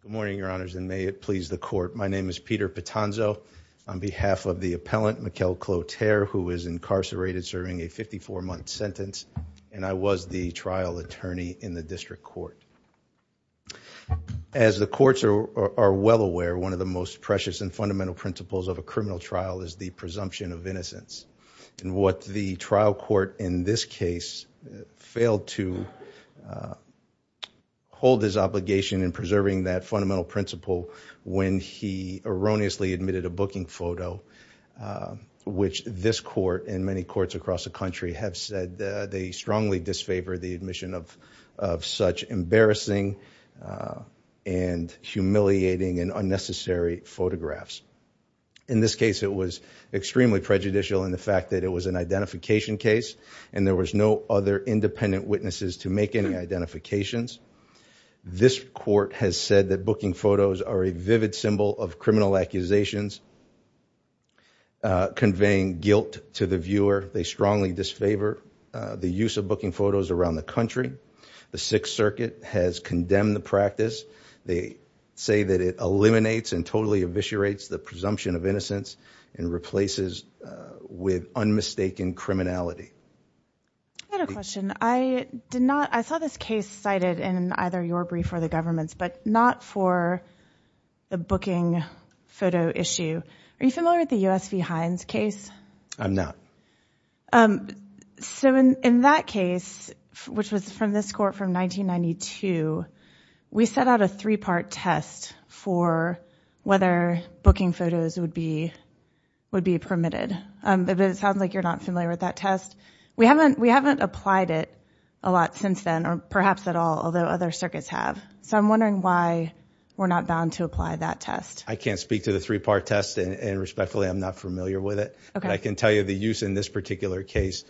Good morning, your honors, and may it please the court. My name is Peter Pitanzo. On behalf of the appellant, Mikel Clotaire, who is incarcerated serving a 54-month sentence, and I was the trial attorney in the district court. As the courts are well aware, one of the most precious and fundamental principles of a criminal trial is the presumption of innocence. And what the trial court in this case failed to hold his obligation in preserving that fundamental principle when he erroneously admitted a booking photo, which this court and many courts across the country have said they strongly disfavor the admission of such embarrassing and humiliating and unnecessary photographs. In this case, it was extremely prejudicial in the fact that it was an identification case, and there was no other independent witnesses to make any identifications. This court has said that booking photos are a vivid symbol of criminal accusations conveying guilt to the viewer. They strongly disfavor the use of booking photos around the country. The Sixth Circuit has condemned the practice. They say that it eliminates and totally eviscerates the presumption of innocence and replaces with unmistaken criminality. I had a question. I saw this case cited in either your brief or the government's, but not for the booking photo issue. Are you familiar with the U.S. v. Hines case? I'm not. So in that case, which was from this court from 1992, we set out a three-part test for whether booking photos would be permitted. It sounds like you're not familiar with that test. We haven't applied it a lot since then, or perhaps at all, although other circuits have. So I'm wondering why we're not bound to apply that test. I can't speak to the three-part test, and respectfully, I'm not familiar with it. I can tell you the use in this particular case,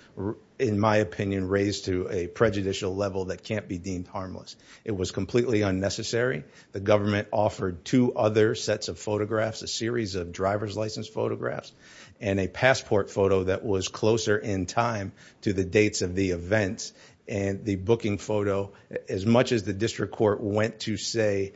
in my opinion, raised to a prejudicial level that can't be deemed harmless. It was completely unnecessary. The government offered two other sets of photographs, a series of driver's license photographs, and a passport photo that was closer in time to the dates of the events. And the booking photo, as much as the district court went to say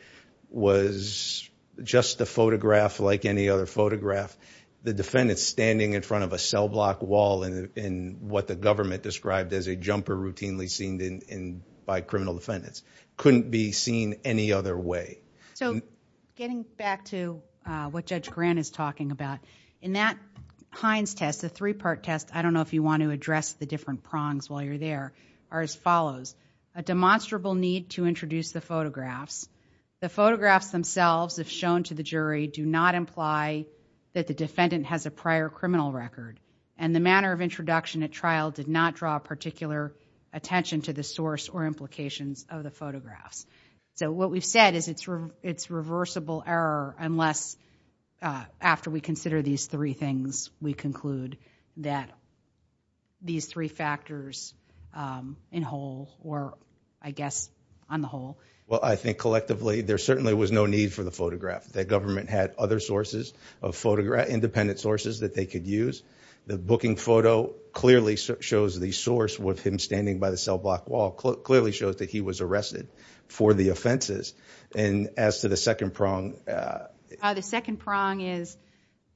was just a photograph like any other photograph, the defendant's standing in front of a cellblock wall in what the government described as a jumper routinely seen by criminal defendants, couldn't be seen any other way. So getting back to what Judge Grant is talking about, in that Hines test, the three-part test, I don't know if you want to address the different prongs while you're there, are as follows. A demonstrable need to introduce the photographs. The photographs themselves, if shown to the jury, do not imply that the defendant has a prior criminal record, and the manner of introduction at trial did not draw particular attention to the source or implications of the photographs. So what we've said is it's reversible error unless, after we consider these three things, we conclude that these three factors in whole, or I guess on the whole. Well I think collectively there certainly was no need for the photograph. The government had other sources of photograph, independent sources that they could use. The booking photo clearly shows the source with him standing by the cellblock wall, clearly shows that he was arrested for the offenses. And as to the second prong. The second prong is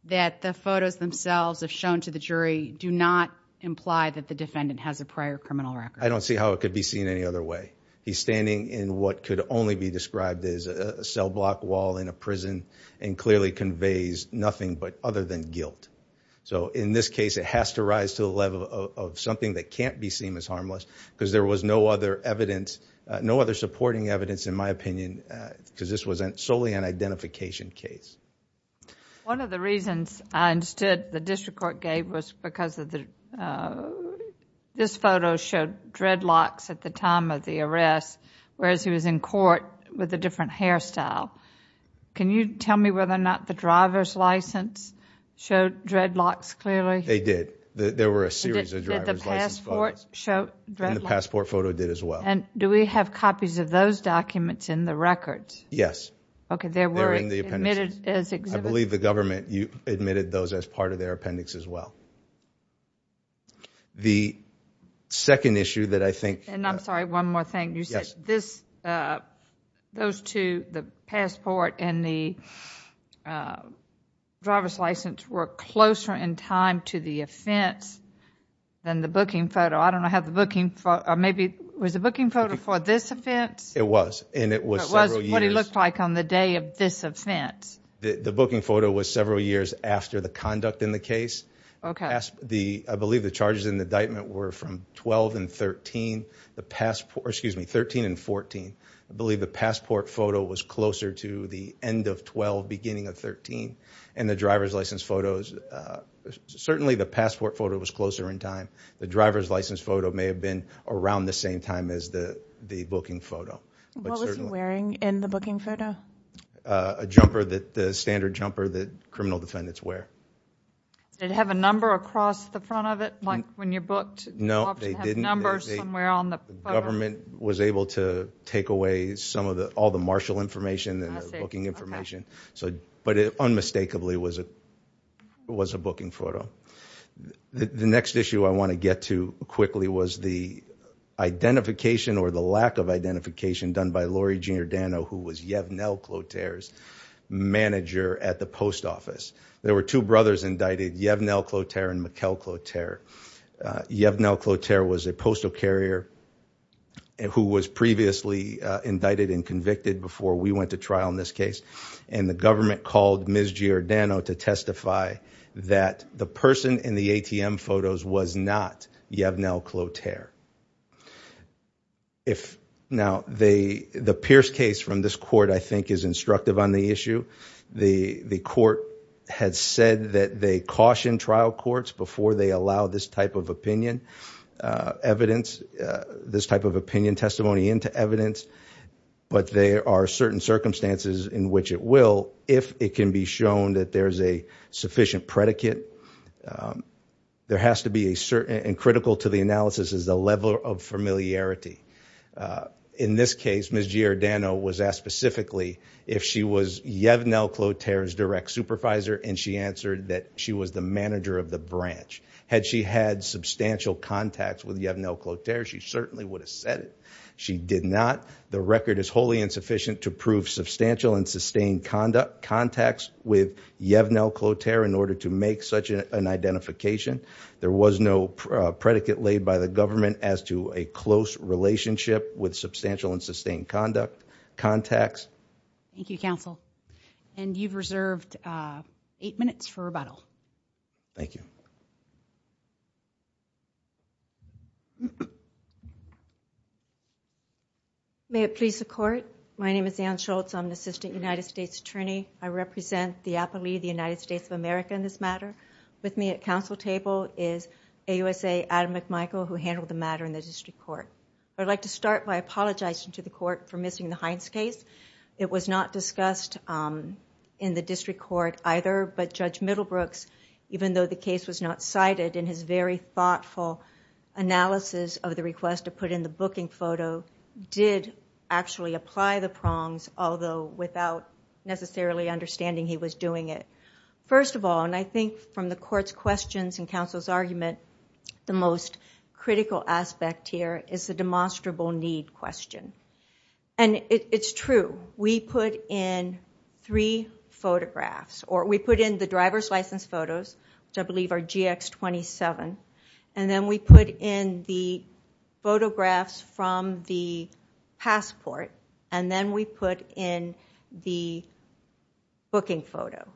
that the photos themselves, if shown to the jury, do not imply that the defendant has a prior criminal record. I don't see how it could be seen any other way. He's standing in what could only be described as a cellblock wall in a prison, and clearly conveys nothing but other than guilt. So in this case it has to rise to the level of something that can't be seen as harmless, because there was no other evidence, no other supporting evidence in my opinion, because this was solely an identification case. One of the reasons I understood the district court gave was because this photo showed dreadlocks at the time of the arrest, whereas he was in court with a different hairstyle. Can you tell me whether or not the driver's license showed dreadlocks clearly? They did. There were a series of driver's license photos. Did the passport show dreadlocks? The passport photo did as well. And do we have copies of those documents in the records? Yes. Okay, they were admitted as exhibits? I believe the government admitted those as part of their appendix as well. The second issue that I think... And I'm sorry, one more thing. You said those two, the passport and the driver's license, were closer in time to the offense than the booking photo. I don't know, was the booking photo for this offense? It was, and it was several years... It was what it looked like on the day of this offense. The booking photo was several years after the conduct in the case. I believe the charges in the indictment were from 12 and 13, excuse me, 13 and 14. I believe the passport photo was closer to the end of 12, beginning of 13. And the driver's license photos, certainly the passport photo was closer in time. The driver's license photo may have been around the same time as the booking photo. What was he wearing in the booking photo? A jumper, the standard jumper that criminal defendants wear. Did it have a number across the front of it, like when you booked? No, they didn't. You have to have numbers somewhere on the photo. The government was able to take away all the marshal information and the booking information. But it unmistakably was a booking photo. The next issue I want to get to quickly was the identification or the lack of identification done by Lori Junior Dano, who was Yevnel Kloter's manager at the post office. There were two brothers indicted, Yevnel Kloter and Mikkel Kloter. Yevnel Kloter was a postal carrier who was previously indicted and convicted before we went to trial in this case. And the government called Ms. Junior Dano to testify that the person in the ATM photos was not Yevnel Kloter. Now, the Pierce case from this court, I think, is instructive on the issue. The court had said that they caution trial courts before they allow this type of opinion, evidence, this type of opinion testimony into evidence. But there are certain circumstances in which it will, if it can be shown that there is a sufficient predicate. There has to be a certain and critical to the analysis is the level of familiarity. In this case, Ms. Junior Dano was asked specifically if she was Yevnel Kloter's direct supervisor and she answered that she was the manager of the branch. Had she had substantial contacts with Yevnel Kloter, she certainly would have said it. She did not. The record is wholly insufficient to prove substantial and sustained conduct contacts with Yevnel Kloter in order to make such an identification. There was no predicate laid by the government as to a close relationship with substantial and sustained conduct contacts. Thank you, counsel. You have reserved eight minutes for rebuttal. Thank you. May it please the court. My name is Ann Schultz. I am the Assistant United States Attorney. I represent the Appellee of the United States of America in this matter. With me at council table is AUSA Adam McMichael who handled the matter in the district court. I would like to start by apologizing to the court for missing the Hines case. It was not discussed in the district court either, but Judge Middlebrooks, even though the case was not cited in his very thoughtful analysis of the request to put in the booking photo, did actually apply the prongs, although without necessarily understanding he was doing it. First of all, and I think from the court's questions and counsel's argument, the most people need question. It is true. We put in three photographs, or we put in the driver's license photos, which I believe are GX27, and then we put in the photographs from the passport, and then we put in the booking photo.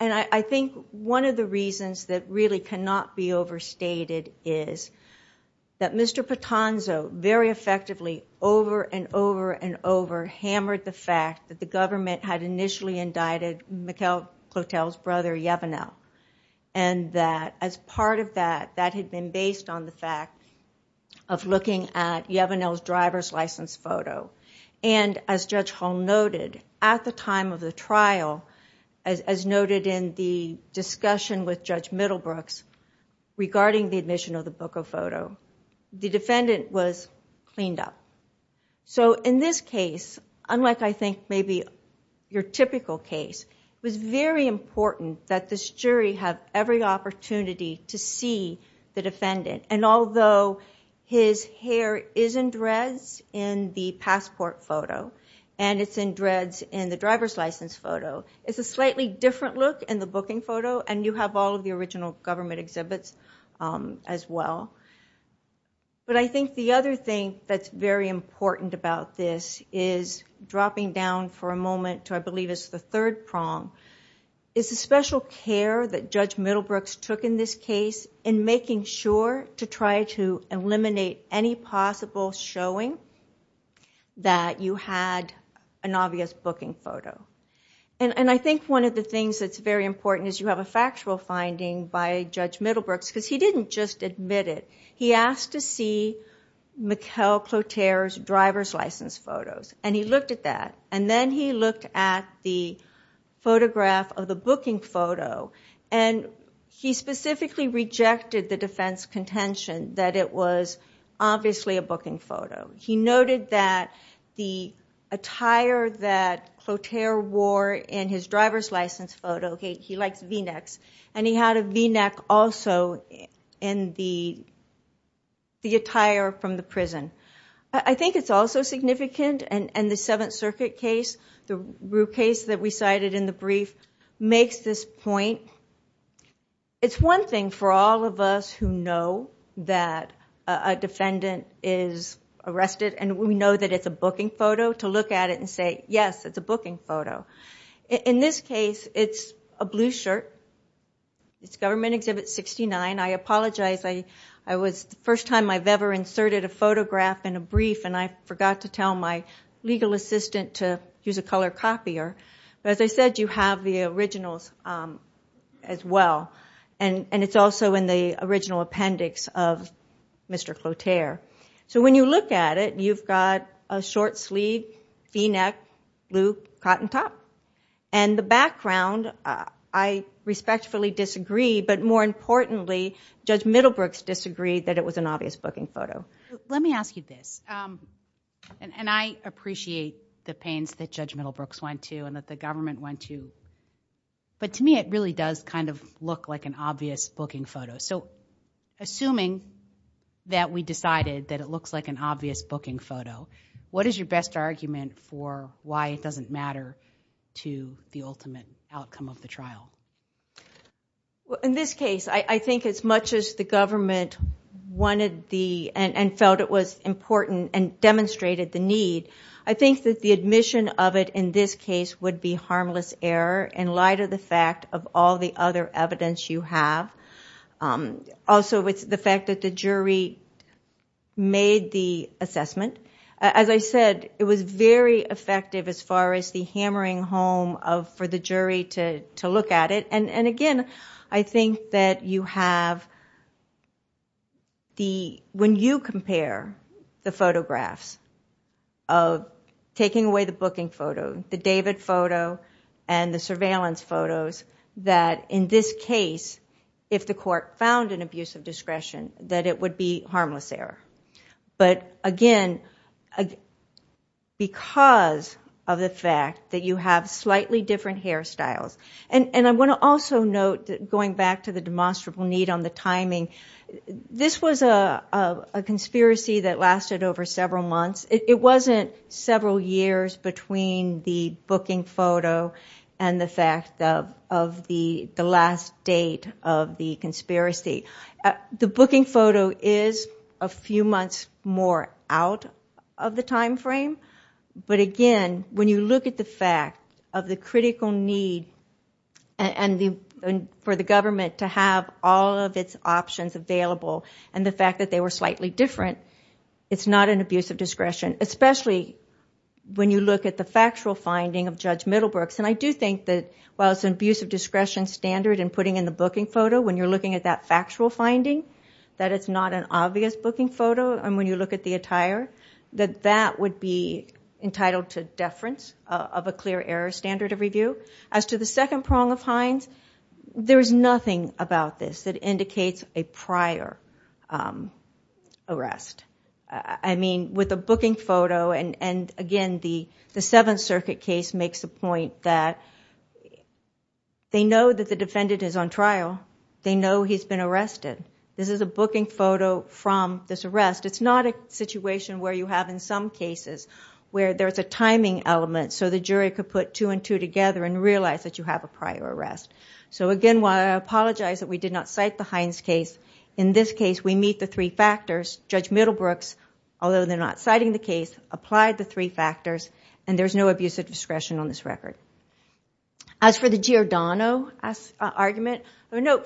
I think one of the reasons that really cannot be overstated is that Mr. Patonzo very effectively, over and over and over, hammered the fact that the government had initially indicted McLeod Clotel's brother, Yavanel. As part of that, that had been based on the fact of looking at Yavanel's driver's license photo. As Judge Hall noted, at the time of the trial, as noted in the discussion with Judge Middlebrooks, regarding the admission of the book of photo, the defendant was cleaned up. In this case, unlike I think maybe your typical case, it was very important that this jury have every opportunity to see the defendant. Although his hair is in dreads in the passport photo, and it's in dreads in the driver's license photo, it's a slightly different look in the exhibits as well. I think the other thing that's very important about this is, dropping down for a moment to I believe it's the third prong, is the special care that Judge Middlebrooks took in this case in making sure to try to eliminate any possible showing that you had an obvious booking photo. I think one of the things that's very important is you have a look at Judge Middlebrooks, because he didn't just admit it. He asked to see Mikhail Cloutier's driver's license photos, and he looked at that. Then he looked at the photograph of the booking photo, and he specifically rejected the defense contention that it was obviously a booking photo. He noted that the attire that Cloutier wore in his driver's license photo, he likes v-necks, and he had a v-neck also in the attire from the prison. I think it's also significant, and the Seventh Circuit case, the Rue case that we cited in the brief, makes this point. It's one thing for all of us who know that a defendant is arrested, and we know that it's a booking photo, to look at it and say, yes, it's a booking photo. In this case, it's a blue shirt. It's Government Exhibit 69. I apologize. It's the first time I've ever inserted a photograph in a brief, and I forgot to tell my legal assistant to use a color copier. As I said, you have the originals as well. It's also in the original appendix of Mr. Cloutier. When you look at it, you've got a short-sleeved v-neck, blue hat, and top, and the background. I respectfully disagree, but more importantly, Judge Middlebrooks disagreed that it was an obvious booking photo. Let me ask you this, and I appreciate the pains that Judge Middlebrooks went to and that the government went to, but to me, it really does kind of look like an obvious booking photo. Assuming that we decided that it looks like an obvious booking photo, what is your best argument for why it doesn't matter to the ultimate outcome of the trial? In this case, I think as much as the government wanted and felt it was important and demonstrated the need, I think that the admission of it in this case would be harmless error in light of the fact of all the other evidence you have. Also, with the fact that the jury made the assessment, as I said, it was very effective as far as the hammering home for the jury to look at it. Again, I think that when you compare the photographs of taking away the booking photo, the David photo, and the surveillance photos, that in this case, if the court found an abuse of discretion, that it would be harmless error. Again, because of the fact that you have slightly different hairstyles. I want to also note, going back to the demonstrable need on the timing, this was a conspiracy that lasted over several months. It wasn't several years between the booking photo and the fact of the last date of the conspiracy. The booking photo is a few months more out of the time frame, but again, when you look at the fact of the critical need for the government to have all of its options available, and the fact that they were slightly different, it's not an abuse of discretion. Especially when you look at the factual finding of Judge Middlebrooks. I do think that while it's an abuse of discretion standard in putting in the booking photo, when you're looking at that factual finding, that it's not an obvious booking photo, and when you look at the attire, that that would be entitled to deference of a clear error standard of review. As to the second prong of Hines, there is nothing about this that indicates a prior arrest. With the booking photo, and again, the Seventh Circuit case makes the point that they know that the defendant is on trial. They know he's been arrested. This is a booking photo from this arrest. It's not a situation where you have in some cases where there's a timing element so the jury could put two and two together and realize that you have a prior arrest. Again, while I apologize that we did not cite the Hines case, in this case we meet the three factors. Judge Middlebrooks, although they're not citing the case, applied the three factors, and there's no abuse of discretion on this record. As for the Giordano argument,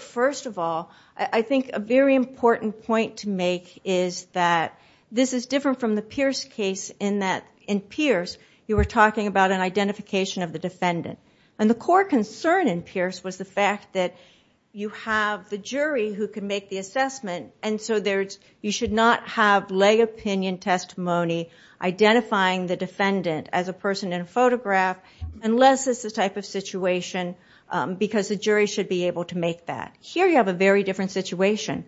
first of all, I think a very important point to make is that this is different from the Pierce case in that in Pierce you were talking about an identification of the defendant. The core concern in Pierce was the fact that you have the jury who can make the assessment, and so you should not have lay opinion testimony identifying the defendant as a person in a photograph unless it's the type of situation because the jury should be able to make that. Here you have a very different situation.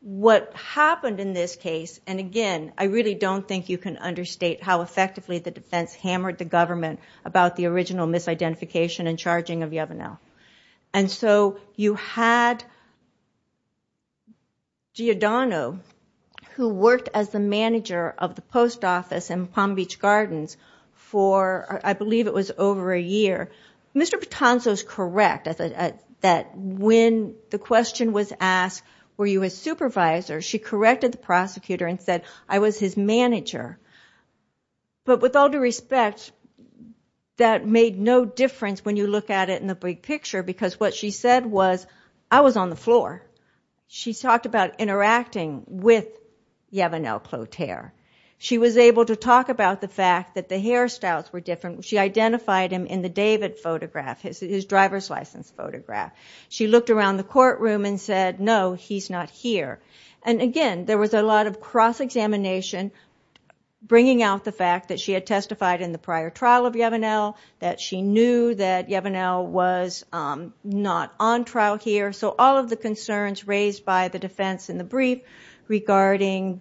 What happened in this case, and again, I really don't think you can understate how effectively the defense hammered the government about the original misidentification and charging of Yovanel. You had Giordano, who worked as the manager of the post office, and he was in the office in Palm Beach Gardens for, I believe it was over a year. Mr. Patonso's correct that when the question was asked, were you his supervisor, she corrected the prosecutor and said, I was his manager. But with all due respect, that made no difference when you look at it in the big picture because what she said was, I was on the floor. She talked about interacting with Yovanel Cloutier. She was able to talk about the fact that the hairstyles were different. She identified him in the David photograph, his driver's license photograph. She looked around the courtroom and said, no, he's not here. Again, there was a lot of cross-examination, bringing out the fact that she had testified in the prior trial of Yovanel, that she knew that Yovanel was not on trial here. So all of the defense in the brief regarding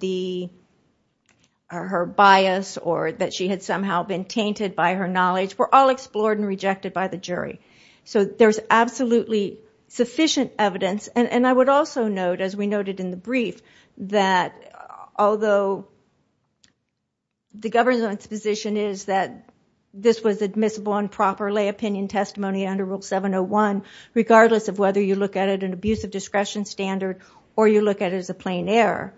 her bias or that she had somehow been tainted by her knowledge were all explored and rejected by the jury. So there's absolutely sufficient evidence. And I would also note, as we noted in the brief, that although the government's position is that this was admissible and proper lay opinion testimony under Rule 701, regardless of whether you look at it as an abuse of discretion standard or you look at it as a plain error,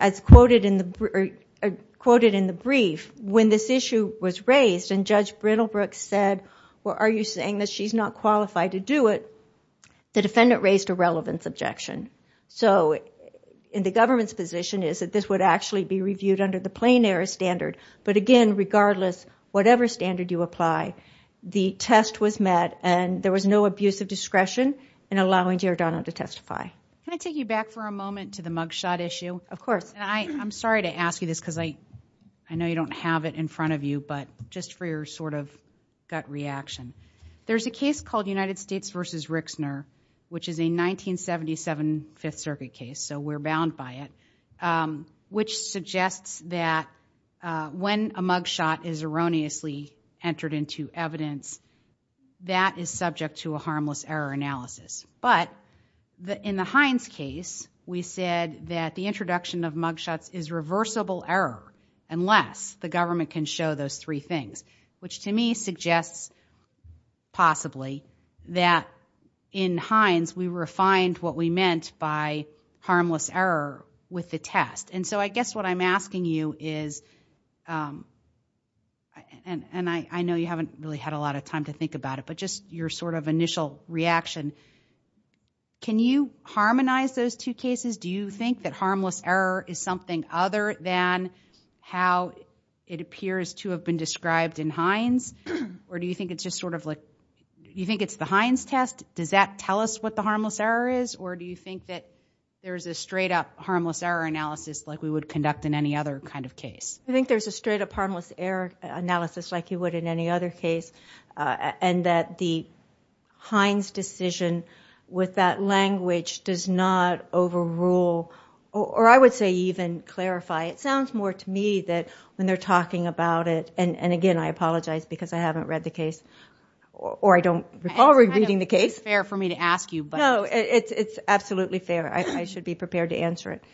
as quoted in the brief, when this issue was raised and Judge Brittlebrook said, well, are you saying that she's not qualified to do it? The defendant raised a relevance objection. So the government's position is that this would actually be reviewed under the plain error standard. But again, regardless, whatever standard you apply, the test was met and there was no abuse of discretion in allowing Deirdre Donald to testify. Can I take you back for a moment to the mugshot issue? Of course. I'm sorry to ask you this because I know you don't have it in front of you, but just for your sort of gut reaction. There's a case called United States versus Rixner, which is a 1977 Fifth Circuit case, so we're bound by it, which suggests that when a mugshot is erroneously entered into evidence, that is subject to a harmless error analysis. But in the Hines case, we said that the introduction of mugshots is reversible error unless the government can show those three things, which to me suggests possibly that in Hines we refined what we meant by harmless error with the test. And so I guess what I'm asking you is, and I know you haven't really had a lot of time to think about it, but just your sort of initial reaction. Can you harmonize those two cases? Do you think that harmless error is something other than how it appears to have been described in Hines? Or do you think it's just sort of like, you think it's the Hines test? Does that tell us what the harmless error is? Or do you think that there's a straight up harmless error analysis like we would conduct in any other kind of case? I think there's a straight up harmless error analysis like you would in any other case, and that the Hines decision with that language does not overrule, or I would say even clarify. It sounds more to me that when they're talking about it, and again I apologize because I haven't read the case, or I don't recall reading the case. It's kind of unfair for me to ask you, but... No, it's absolutely fair. I should be prepared to answer it.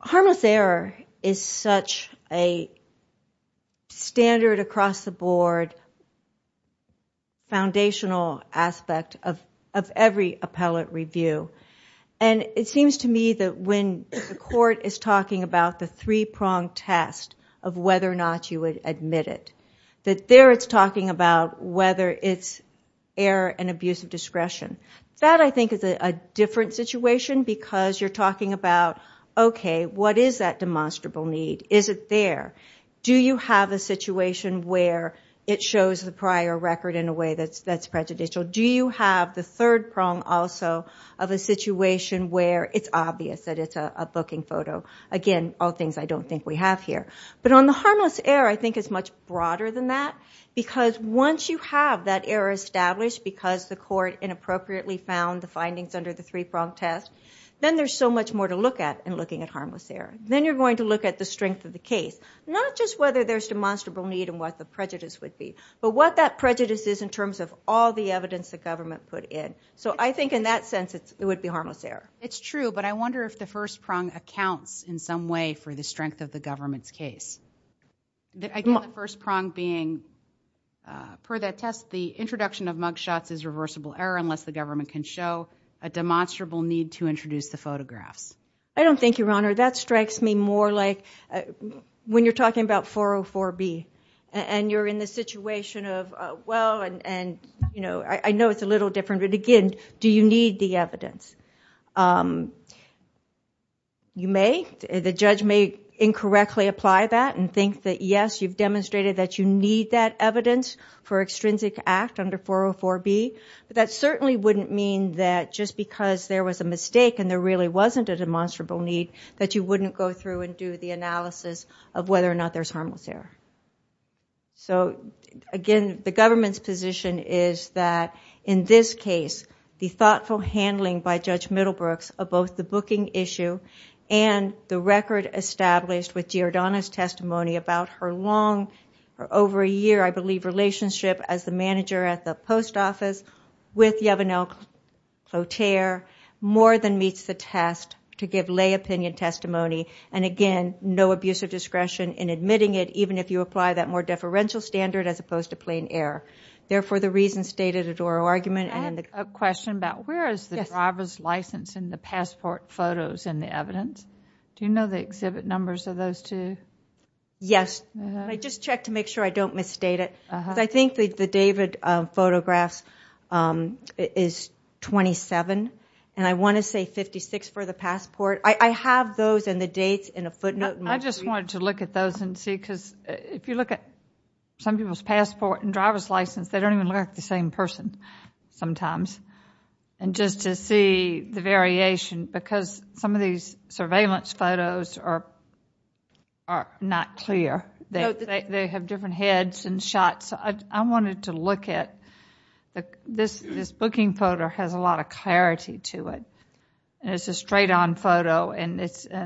Harmless error is such a standard across the board, foundational aspect of every appellate review, and it seems to me that when the court is talking about the three pronged test of whether or not you would admit it, that there it's talking about whether it's error and abuse of discretion. That I think is a different situation because you're talking about, okay, what is that demonstrable need? Is it there? Do you have a situation where it shows the prior record in a way that's prejudicial? Do you have the third prong also of a situation where it's obvious that it's a booking photo? Again, all things I don't think we have here. But on the harmless error, I think it's much broader than that because once you have that error established because the court inappropriately found the findings under the three pronged test, then there's so much more to look at in looking at harmless error. Then you're going to look at the strength of the case, not just whether there's demonstrable need and what the prejudice would be, but what that prejudice is in terms of all the evidence the government put in. So I think in that sense it would be harmless error. It's true, but I wonder if the first prong accounts in some way for the strength of the government's case. I think the first prong being, per that test, the introduction of mug shots is reversible error unless the government can show a demonstrable need to introduce the photographs. I don't think, Your Honor. That strikes me more like when you're talking about 404B and you're in the situation of, well, and I know it's a little different, but again, do you may incorrectly apply that and think that, yes, you've demonstrated that you need that evidence for extrinsic act under 404B, but that certainly wouldn't mean that just because there was a mistake and there really wasn't a demonstrable need that you wouldn't go through and do the analysis of whether or not there's harmless error. So again, the government's position is that in this case, the thoughtful handling by Judge established with Giordano's testimony about her long, for over a year, I believe, relationship as the manager at the post office with Yvonne L. Cloutier more than meets the test to give lay opinion testimony and again, no abuse of discretion in admitting it even if you apply that more deferential standard as opposed to plain error. Therefore the reason stated at oral argument and in the- I have a question about where is the driver's license in the passport photos in the evidence? Do you know the exhibit numbers of those two? Yes. I just checked to make sure I don't misstate it. I think the David photographs is 27 and I want to say 56 for the passport. I have those and the dates in a footnote. I just wanted to look at those and see because if you look at some people's passport and driver's license, they don't even look like the same person sometimes and just to see the variation because some of these surveillance photos are not clear. They have different heads and shots. I wanted to look at this booking photo has a lot of clarity to it and it's a straight on photo and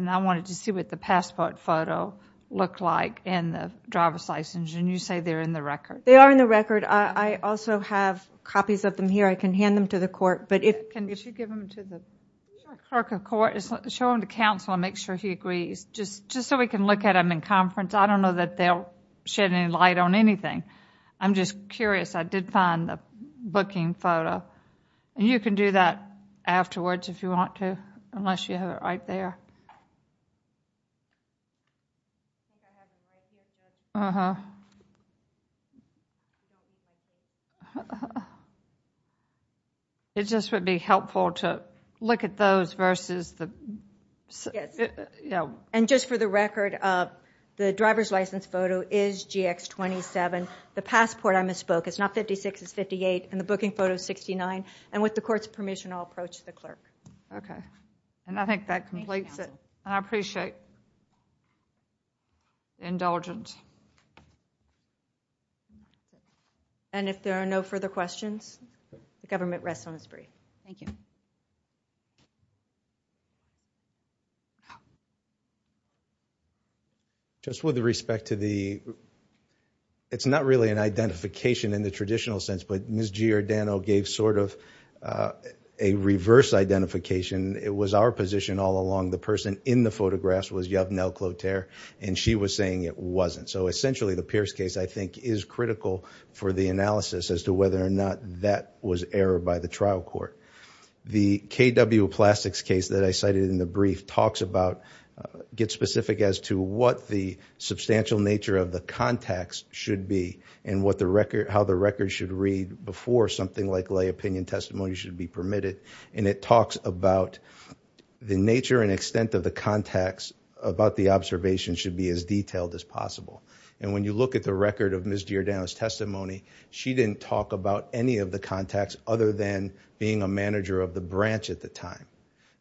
I wanted to see what the passport photo looked like and the driver's license and you say they're in the record. They are in the record. I also have copies of them here. I can hand them to the court. Can you give them to the clerk of court and show them to counsel and make sure he agrees just so we can look at them in conference. I don't know that they'll shed any light on anything. I'm just curious. I did find the booking photo. You can do that afterwards if you want to unless you have it right there. It just would be helpful to look at those versus the... And just for the record, the driver's license photo is GX27. The passport I misspoke is not 56, it's 58 and the booking photo is 69. And with the court's permission, I'll approach the clerk. And I think that completes it and I appreciate the indulgence. And if there are no further questions, the government rests on its breath. Thank you. Just with respect to the... It's not really an identification in the traditional sense, but Ms. Giordano gave sort of a reverse identification. It was our position all along. The person in the photographs was Yovnel Cloutier and she was saying it wasn't. So essentially, the Pierce case I think is critical for the analysis as to whether or not that was error by the trial court. The KW Plastics case that I cited in the brief talks about... Gets specific as to what the substantial nature of the contacts should be and how the record should read before something like lay opinion testimony should be permitted. And it talks about the nature and extent of the contacts about the observation should be as detailed as possible. And when you look at the record of Ms. Giordano's testimony, she didn't talk about any of the contacts other than being a manager of the branch at the time.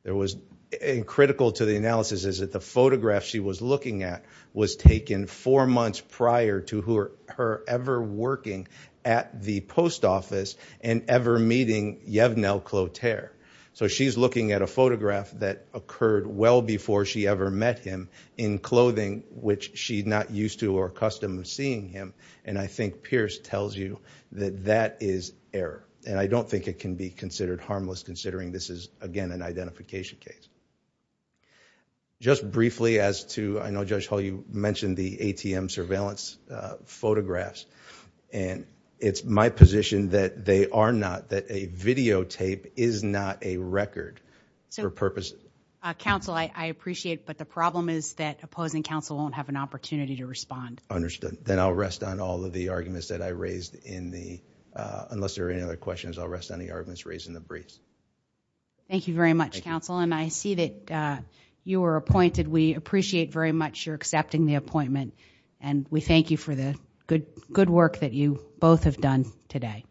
There was... And critical to the analysis is that the photograph she was looking at was taken four months prior to her ever working at the post office and ever meeting Yovnel Cloutier. So she's looking at a photograph that occurred well before she ever met him in clothing which she's not used to or accustomed to seeing him. And I think Pierce tells you that that is error. And I don't think it can be considered harmless considering this is, again, an identification case. Just briefly as to... I know Judge Hall, you mentioned the ATM surveillance photographs. And it's my position that they are not, that a videotape is not a record for purposes... Counsel, I appreciate, but the problem is that opposing counsel won't have an opportunity to respond. Understood. Then I'll rest on all of the arguments that I raised in the... Unless there are any other questions, I'll rest on the arguments raised in the briefs. Thank you very much, counsel. And I see that you were appointed. We appreciate very much your accepting the appointment. And we thank you for the good work that you both have done today.